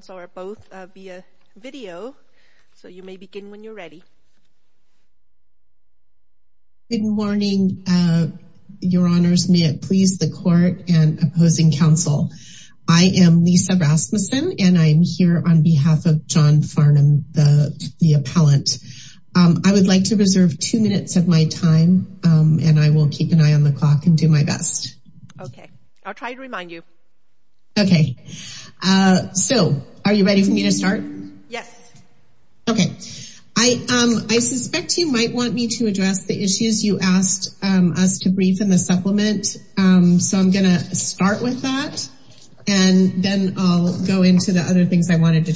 so you may begin when you're ready. May it please the Court and opposing counsel, I am Lisa Rasmussen, and I am here on behalf of John Farnum, the appellant. I would like to reserve two minutes of my time, and I will keep an eye on the clock and do my best. Okay, I'll try to remind you. Okay, so are you ready for me to start? Yes. Okay, I suspect you might want me to address the issues you asked us to brief in the supplement, so I'm going to start with that, and then I'll go into the other things I wanted to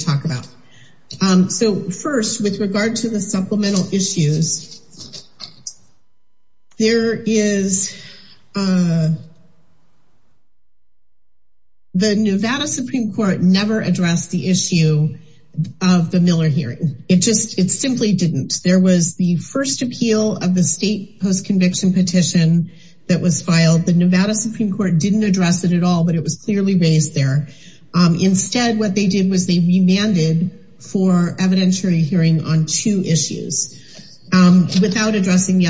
The Nevada Supreme Court never addressed the issue of the Miller hearing. It just, it simply didn't. There was the first appeal of the state post-conviction petition that was filed. The Nevada Supreme Court didn't address it at all, but it was clearly raised there. Instead, what they did was they remanded for evidentiary hearing on two issues without addressing the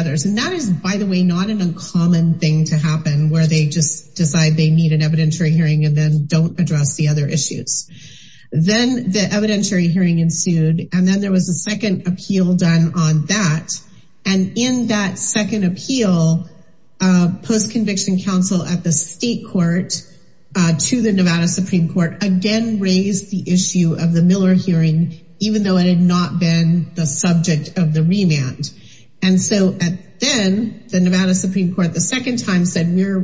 They just decide they need an evidentiary hearing and then don't address the other issues. Then the evidentiary hearing ensued, and then there was a second appeal done on that, and in that second appeal, post-conviction counsel at the state court to the Nevada Supreme Court again raised the issue of the Miller hearing, even though it had not been the subject of And so then, the Nevada Supreme Court the second time said, we're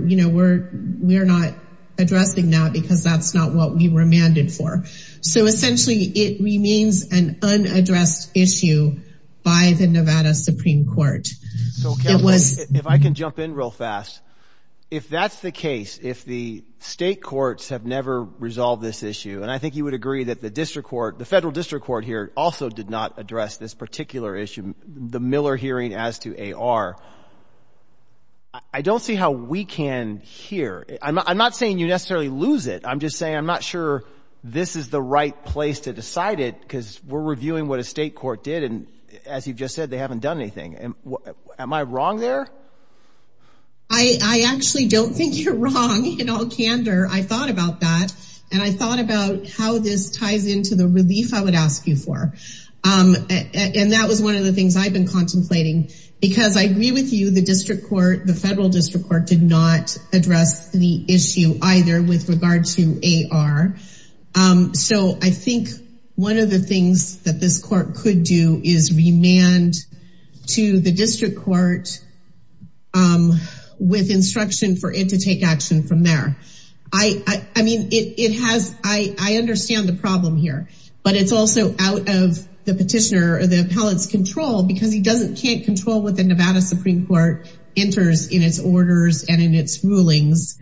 not addressing that because that's not what we remanded for. So essentially, it remains an unaddressed issue by the Nevada Supreme Court. If I can jump in real fast, if that's the case, if the state courts have never resolved this issue, and I think you would agree that the district court, the federal district court here also did not address the Miller hearing as to AR. I don't see how we can hear. I'm not saying you necessarily lose it. I'm just saying I'm not sure this is the right place to decide it because we're reviewing what a state court did, and as you've just said, they haven't done anything. Am I wrong there? I actually don't think you're wrong in all candor. I thought about that, and I thought about how this ties into the relief I would ask you for. And that was one of the things I've been contemplating because I agree with you, the district court, the federal district court did not address the issue either with regard to AR. So I think one of the things that this court could do is remand to the district court with instruction for it to take action from there. I mean, it has, I understand the problem here, but it's also out of the petitioner or the appellate's control because he doesn't, can't control what the Nevada Supreme Court enters in its orders and in its rulings.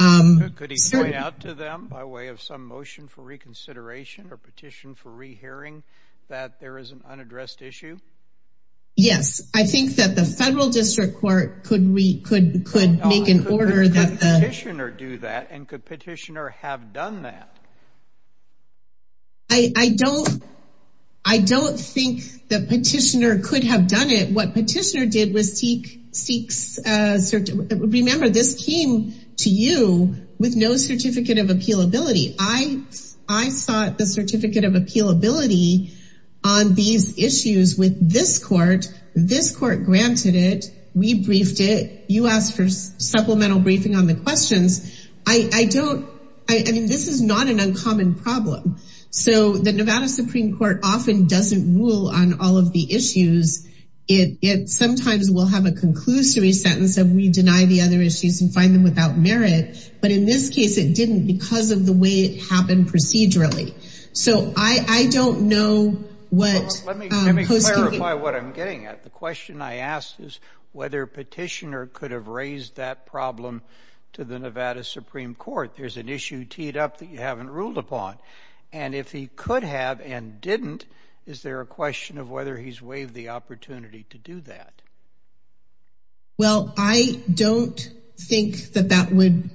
Could he point out to them by way of some motion for reconsideration or petition for rehearing that there is an unaddressed issue? Yes, I think that the federal district court could make an order that... Could the petitioner do that, and could petitioner have done that? I don't think the petitioner could have done it. What petitioner did was seek... Remember, this came to you with no certificate of appealability. I sought the certificate of appealability on these issues with this court. This court granted it. We briefed it. You asked for supplemental briefing on the questions. I don't... I mean, this is not an uncommon problem. So the Nevada Supreme Court often doesn't rule on all of the issues. It sometimes will have a conclusory sentence of we deny the other issues and find them without merit. But in this case, it didn't because of the way it happened procedurally. So I don't know what... Let me clarify what I'm getting at. The question I asked is whether petitioner could have raised that problem to the Nevada Supreme Court. There's an issue teed up that you haven't ruled upon. And if he could have and didn't, is there a question of whether he's waived the opportunity to do that? Well, I don't think that that would...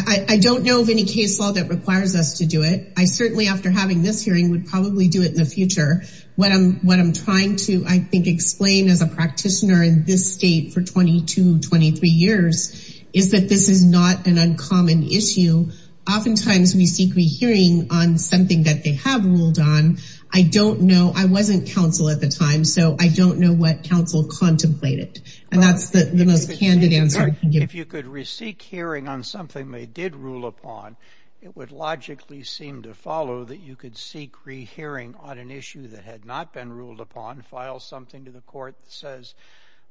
I don't know of any case law that requires us to do it. I certainly, after having this hearing, would probably do it in the future. What I'm trying to, I think, explain as a practitioner in this state for 22, 23 years is that this is not an uncommon issue. Oftentimes, we seek rehearing on something that they have ruled on. I don't know. I wasn't counsel at the time, so I don't know what counsel contemplated. And that's the most candid answer I can give. If you could re-seek hearing on something they did rule upon, it would logically seem to follow that you could seek rehearing on an issue that had not been ruled upon, file something to the court that says,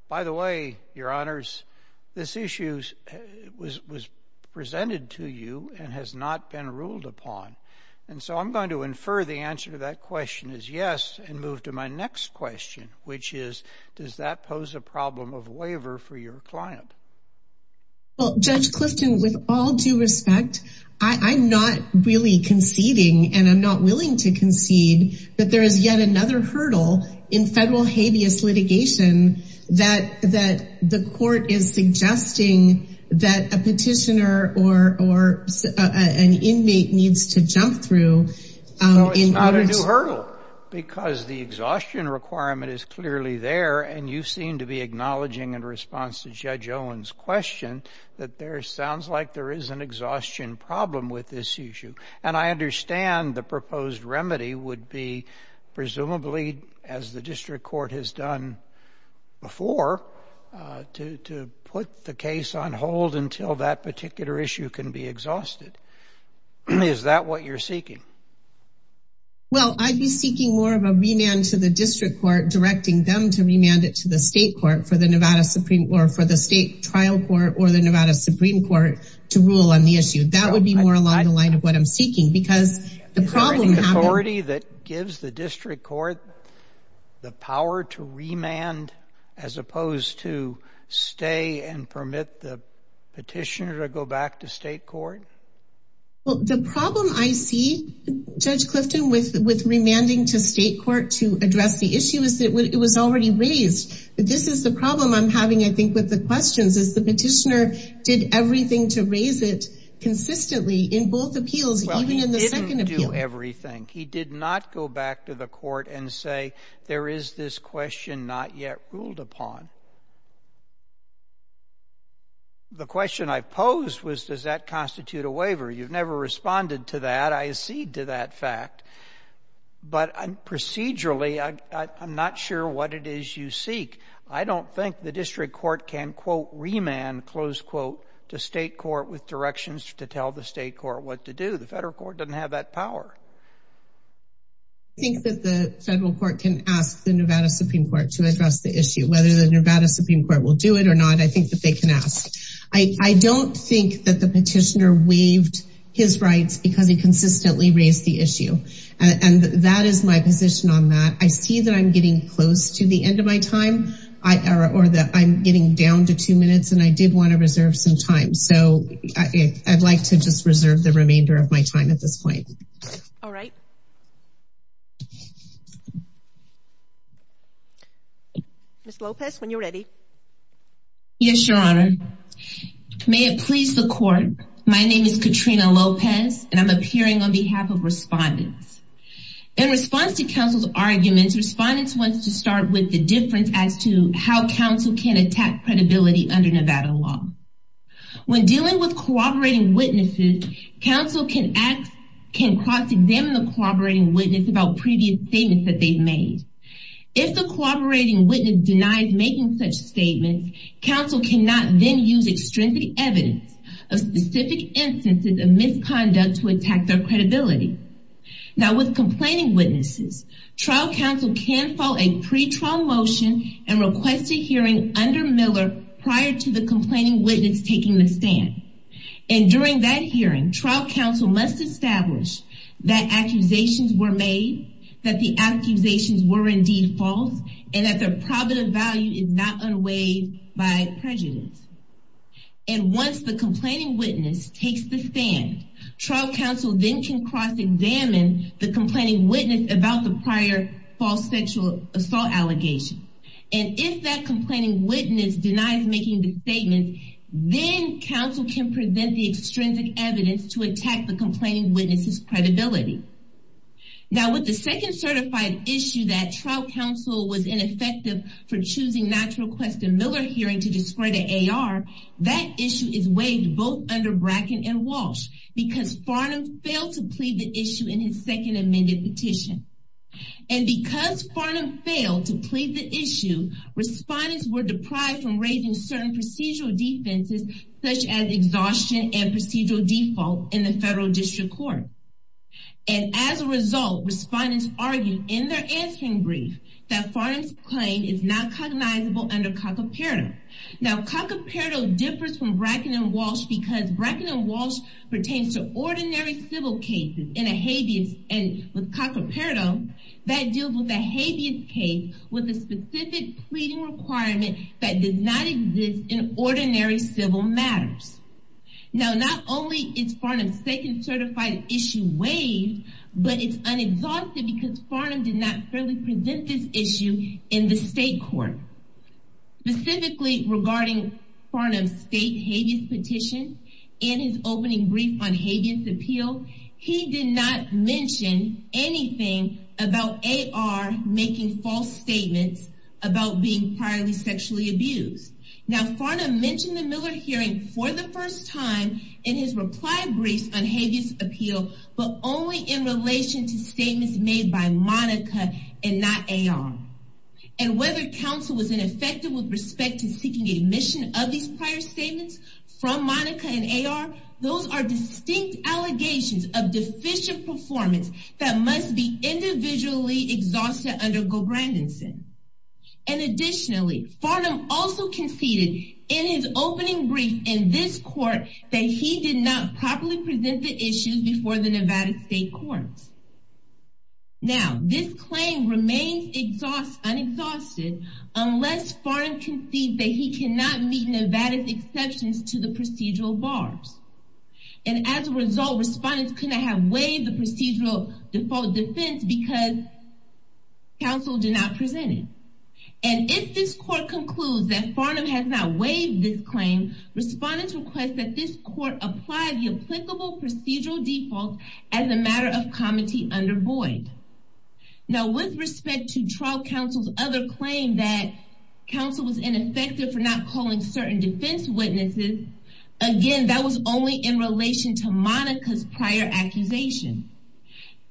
by the way, Your Honors, this issue was presented to you and has not been ruled upon. And so I'm going to infer the answer to that question is yes and move to my next question, which is, does that pose a problem of waiver for your client? Well, Judge Clifton, with all due respect, I'm not really conceding, and I'm not willing to concede that there is yet another hurdle in federal habeas litigation that the court is suggesting that a petitioner or an inmate needs to jump through. So it's not a new hurdle because the exhaustion requirement is clearly there, and you seem to be acknowledging in response to Judge Owen's question that there sounds like there is an exhaustion problem with this issue. And I understand the proposed remedy would be, presumably, as the district court has done before, to put the case on hold until that particular issue can be exhausted. Is that what you're seeking? Well, I'd be seeking more of a remand to the district court directing them to remand it to the state court for the state trial court or the Nevada Supreme Court to rule on the issue. That would be more along the line of what I'm seeking, because the problem— Is there an authority that gives the district court the power to remand as opposed to stay and permit the petitioner to go back to state court? Well, the problem I see, Judge Clifton, with remanding to state court to address the issue is that it was already raised. This is the problem I'm having, I think, with the questions, is the petitioner did everything to raise it consistently in both appeals, even in the second appeal. Well, he didn't do everything. He did not go back to the court and say, there is this question not yet ruled upon. The question I posed was, does that constitute a waiver? You've never responded to that. I accede to that fact. But procedurally, I'm not sure what it is you seek. I don't think the district court can, quote, remand, close quote, to state court with directions to tell the state court what to do. The federal court doesn't have that power. I think that the federal court can ask the Nevada Supreme Court to address the issue. Whether the Nevada Supreme Court will do it or not, I think that they can ask. I don't think that the petitioner waived his rights because he consistently raised the issue. And that is my position on that. I see that I'm getting close to the end of my time, or that I'm getting down to two minutes, and I did want to reserve some time. So I'd like to just reserve the remainder of my time at this point. All right. Ms. Lopez, when you're ready. Yes, Your Honor. May it please the court, my name is Katrina Lopez, and I'm appearing on behalf of respondents. In response to counsel's arguments, respondents want to start with the difference as to how counsel can attack credibility under Nevada law. When dealing with cooperating witnesses, counsel can cross-examine the cooperating witness about previous statements that they've made. If the cooperating witness denies making such statements, counsel cannot then use extrinsic evidence of specific instances of misconduct to attack their credibility. Now, with complaining witnesses, trial counsel can file a pre-trial motion and request a hearing under Miller prior to the complaining witness taking the stand. And during that hearing, trial counsel must establish that accusations were made, that the accusations were indeed false, and that their probative value is not unweighed by prejudice. And once the complaining witness takes the stand, trial counsel then can cross-examine the complaining witness about the prior false sexual assault allegation. And if that complaining witness denies making the statement, then counsel can present the extrinsic evidence to attack the complaining witness's credibility. Now, with the second certified issue that trial counsel was ineffective for choosing not to request a Miller hearing to discredit AR, that issue is waived both under Bracken and Walsh because Farnham failed to plead the issue in his second amended petition. And because Farnham failed to plead the issue, respondents were deprived from raising certain procedural defenses such as exhaustion and procedural default in the federal district court. And as a result, respondents argued in their answering brief that Farnham's claim is not cognizable under Cacoperdo. Now, Cacoperdo differs from Bracken and Walsh because Bracken and Walsh pertains to ordinary civil cases in a habeas, and with Cacoperdo, that deals with a habeas case with a specific pleading requirement that does not exist in ordinary civil matters. Now, not only is Farnham's second certified issue waived, but it's unexhausted because Farnham did not fairly present this issue in the state court. Specifically regarding Farnham's state habeas petition and his opening brief on habeas appeal, he did not mention anything about AR making false statements about being priorly sexually abused. Now, Farnham mentioned the Miller hearing for the first time in his reply briefs on habeas appeal, but only in relation to statements made by Monica and not AR. And whether counsel was ineffective with respect to seeking admission of these prior statements from Monica and AR, those are distinct allegations of deficient performance that must be individually exhausted under GoBrandonson. And additionally, Farnham also conceded in his opening brief in this court that he did not properly present the issues before the Nevada state courts. Now, this claim remains unexhausted unless Farnham concedes that he cannot meet Nevada's exceptions to the procedural bars. And as a result, respondents could not have waived the procedural default defense because counsel did not present it. And if this court concludes that Farnham has not waived this claim, respondents request that this court apply the applicable procedural default as a matter of comity under Boyd. Now, with respect to trial counsel's other claim that counsel was ineffective for not calling certain defense witnesses, again, that was only in relation to Monica's prior accusation.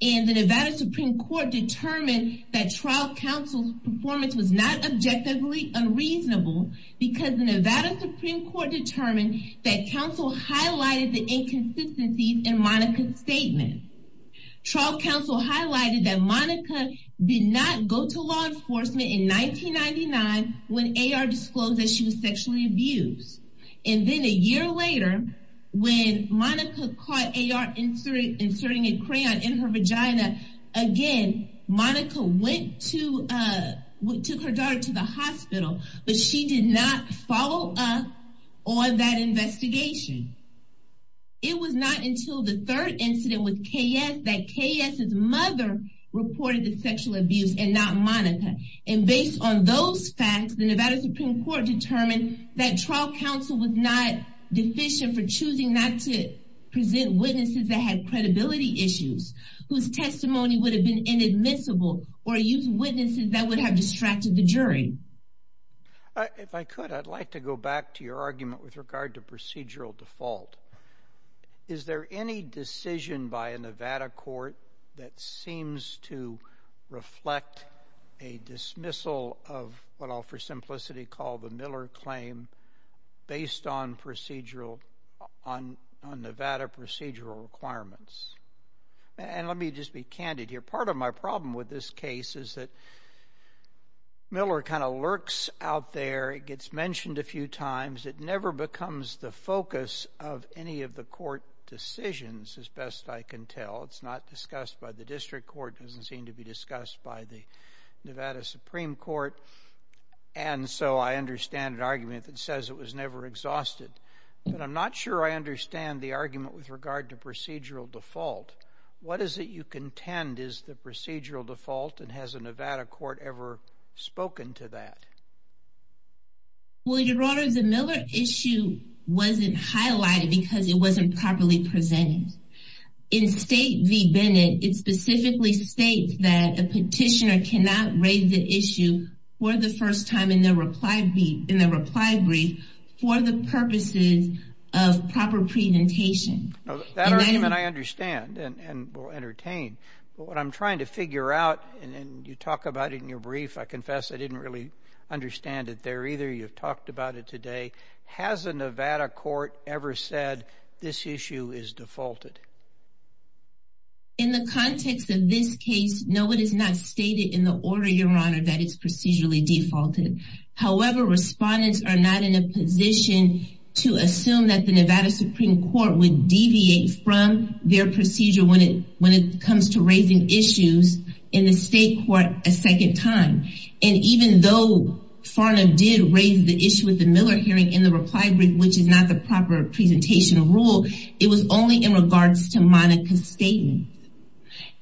And the Nevada Supreme Court determined that trial counsel's performance was not objectively unreasonable because the Nevada Supreme Court determined that counsel highlighted the inconsistencies in Monica's statement. Trial counsel highlighted that Monica did not go to law enforcement in 1999 when AR disclosed that she was sexually abused. And then a year later, when Monica caught AR inserting a crayon in her vagina, again, Monica took her daughter to the hospital, but she did not follow up on that investigation. It was not until the third incident with KS that KS's mother reported the sexual abuse and not Monica. And based on those facts, the Nevada Supreme Court determined that trial counsel was not deficient for choosing not to present witnesses that had credibility issues whose testimony would have been inadmissible or use witnesses that would have distracted the jury. If I could, I'd like to go back to your argument with regard to procedural default. Is there any decision by a Nevada court that seems to reflect a dismissal of what I'll for simplicity call the Miller claim based on Nevada procedural requirements? And let me just be candid here. Part of my problem with this case is that Miller kind of lurks out there. It gets mentioned a few times. It never becomes the focus of any of the court decisions as best I can tell. It's not discussed by the district court. It doesn't seem to be discussed by the Nevada Supreme Court. And so I understand an argument that says it was never exhausted. But I'm not sure I understand the argument with regard to procedural default. What is it you contend is the procedural default and has a Nevada court ever spoken to that? Well, Your Honor, the Miller issue wasn't highlighted because it wasn't properly presented. In State v. Bennett, it specifically states that a petitioner cannot raise the issue for the first time in the reply brief for the purposes of proper presentation. That argument I understand and will entertain. But what I'm trying to figure out, and you talk about it in your brief, I confess I didn't really understand it there either. You've talked about it today. Has a Nevada court ever said this issue is defaulted? In the context of this case, no, it is not stated in the order, Your Honor, that it's procedurally defaulted. However, respondents are not in a position to assume that the Nevada Supreme Court would deviate from their procedure when it comes to raising issues in the state court a second time. And even though Farnham did raise the issue with the Miller hearing in the reply brief, which is not the proper presentation rule, it was only in regards to Monica's statement.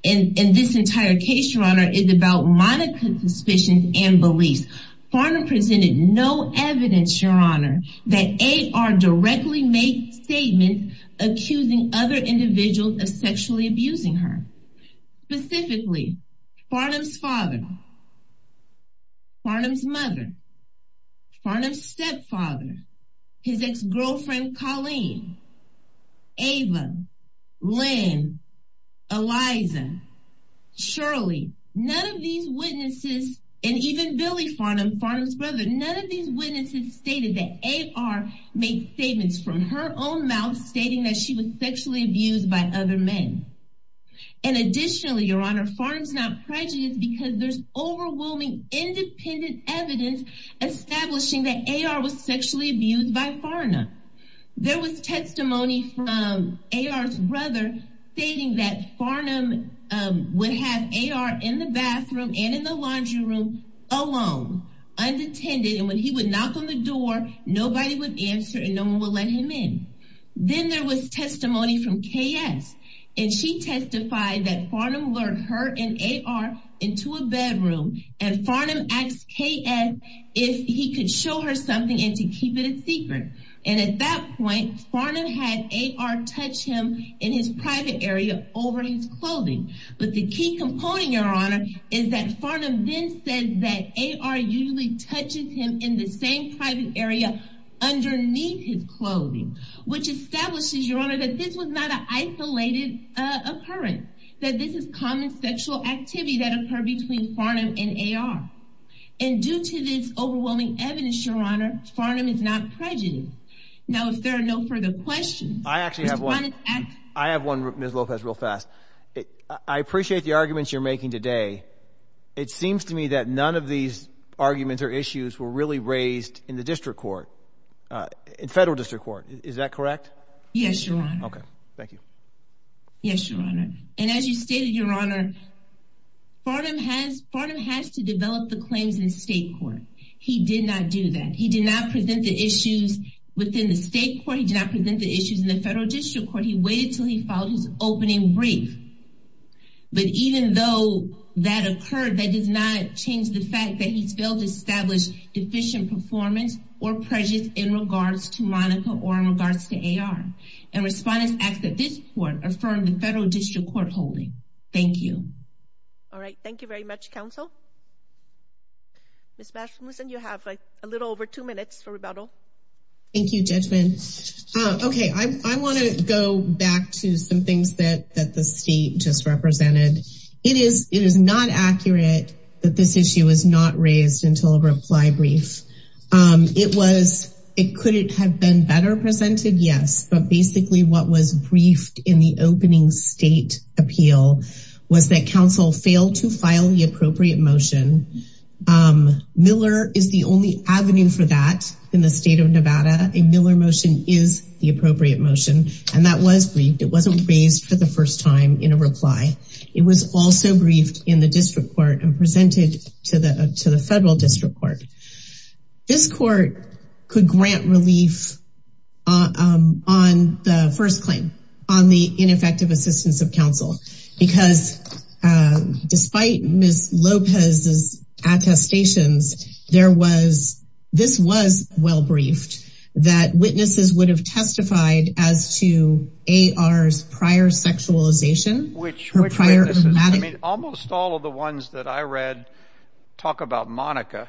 And this entire case, Your Honor, is about Monica's suspicions and beliefs. Farnham presented no evidence, Your Honor, that AR directly made statements accusing other individuals of sexually abusing her. Specifically, Farnham's father, Farnham's mother, Farnham's stepfather, his ex-girlfriend Colleen, Ava, Lynn, Eliza, Shirley. None of these witnesses, and even Billy Farnham, Farnham's brother, none of these witnesses stated that AR made statements from her own mouth stating that she was sexually abused by other men. And additionally, Your Honor, Farnham's not prejudiced because there's overwhelming independent evidence establishing that AR was sexually abused by Farnham. There was testimony from AR's brother stating that Farnham would have AR in the bathroom and in the laundry room alone, unattended, and when he would knock on the door, nobody would answer and no one would let him in. Then there was testimony from KS. And she testified that Farnham lured her and AR into a bedroom and Farnham asked KS if he could show her something and to keep it a secret. And at that point, Farnham had AR touch him in his private area over his clothing. But the key component, Your Honor, is that Farnham then said that AR usually touches him in the same private area underneath his clothing, which establishes, Your Honor, that this was not an isolated occurrence, that this is common sexual activity that occurred between Farnham and AR. And due to this overwhelming evidence, Your Honor, Farnham is not prejudiced. Now, if there are no further questions, Mr. Connors, ask. I have one, Ms. Lopez, real fast. I appreciate the arguments you're making today. It seems to me that none of these arguments or issues were really raised in the district court, in federal district court. Is that correct? Yes, Your Honor. Okay. Thank you. Yes, Your Honor. And as you stated, Your Honor, Farnham has to develop the claims in state court. He did not do that. He did not present the issues within the state court. He did not present the issues in the federal district court. He waited until he filed his opening brief. But even though that occurred, that does not change the fact that he's failed to establish deficient performance or prejudice in regards to Monica or in regards to AR. And Respondents Act that this court affirmed the federal district court holding. Thank you. All right. Thank you very much, counsel. Ms. Mathewson, you have a little over two minutes for rebuttal. Thank you, Judgment. Okay. I want to go back to some things that the state just represented. It is not accurate that this issue was not raised until a reply brief. It could have been better presented, yes, but basically what was briefed in the opening state appeal was that counsel failed to file the appropriate motion. Miller is the only avenue for that in the state of Nevada. A Miller motion is the appropriate motion. And that was briefed. It wasn't raised for the first time in a reply. It was also briefed in the district court and presented to the federal district court. This court could grant relief on the first claim, on the ineffective assistance of counsel, because despite Ms. Lopez's attestations, there was, this was well briefed. There was no evidence that witnesses would have testified as to A.R.'s prior sexualization. Almost all of the ones that I read talk about Monica.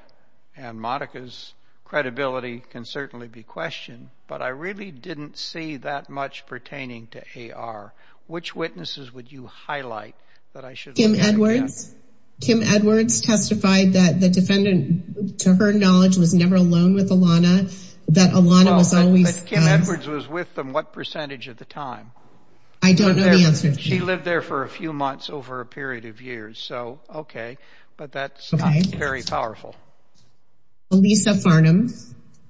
And Monica's credibility can certainly be questioned. But I really didn't see that much pertaining to A.R. Which witnesses would you highlight? Kim Edwards testified that the defendant, to her knowledge, was never alone with Alana. That Alana was always. But Kim Edwards was with them what percentage of the time? I don't know the answer. She lived there for a few months over a period of years. So, okay. But that's not very powerful. Lisa Farnham.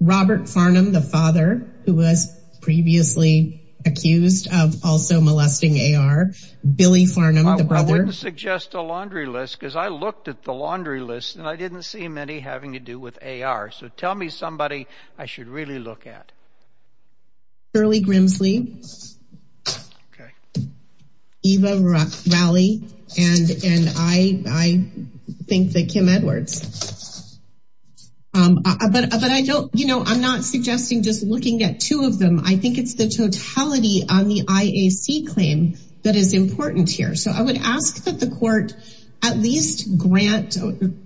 Robert Farnham, the father, who was previously accused of also molesting A.R. Billy Farnham, the brother. I wouldn't suggest a laundry list, because I looked at the laundry list, and I didn't see many having to do with A.R. So tell me somebody I should really look at. Shirley Grimsley. Okay. Eva Rowley. And I think that Kim Edwards. But I don't, you know, I'm not suggesting just looking at two of them. I think it's the totality on the IAC claim that is important here. So I would ask that the court at least grant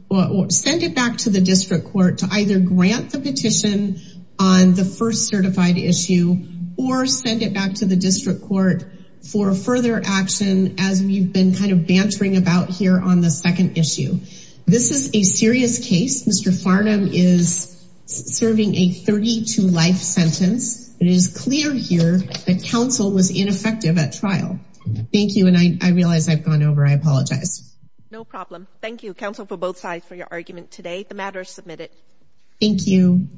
or send it back to the district court to either grant the petition on the first certified issue, or send it back to the district court for further action, as we've been kind of bantering about here on the second issue. This is a serious case. Mr. Farnham is serving a 32-life sentence. It is clear here that counsel was ineffective at trial. Thank you. And I realize I've gone over. I apologize. No problem. Thank you, counsel, for both sides for your argument today. The matter is submitted. Thank you.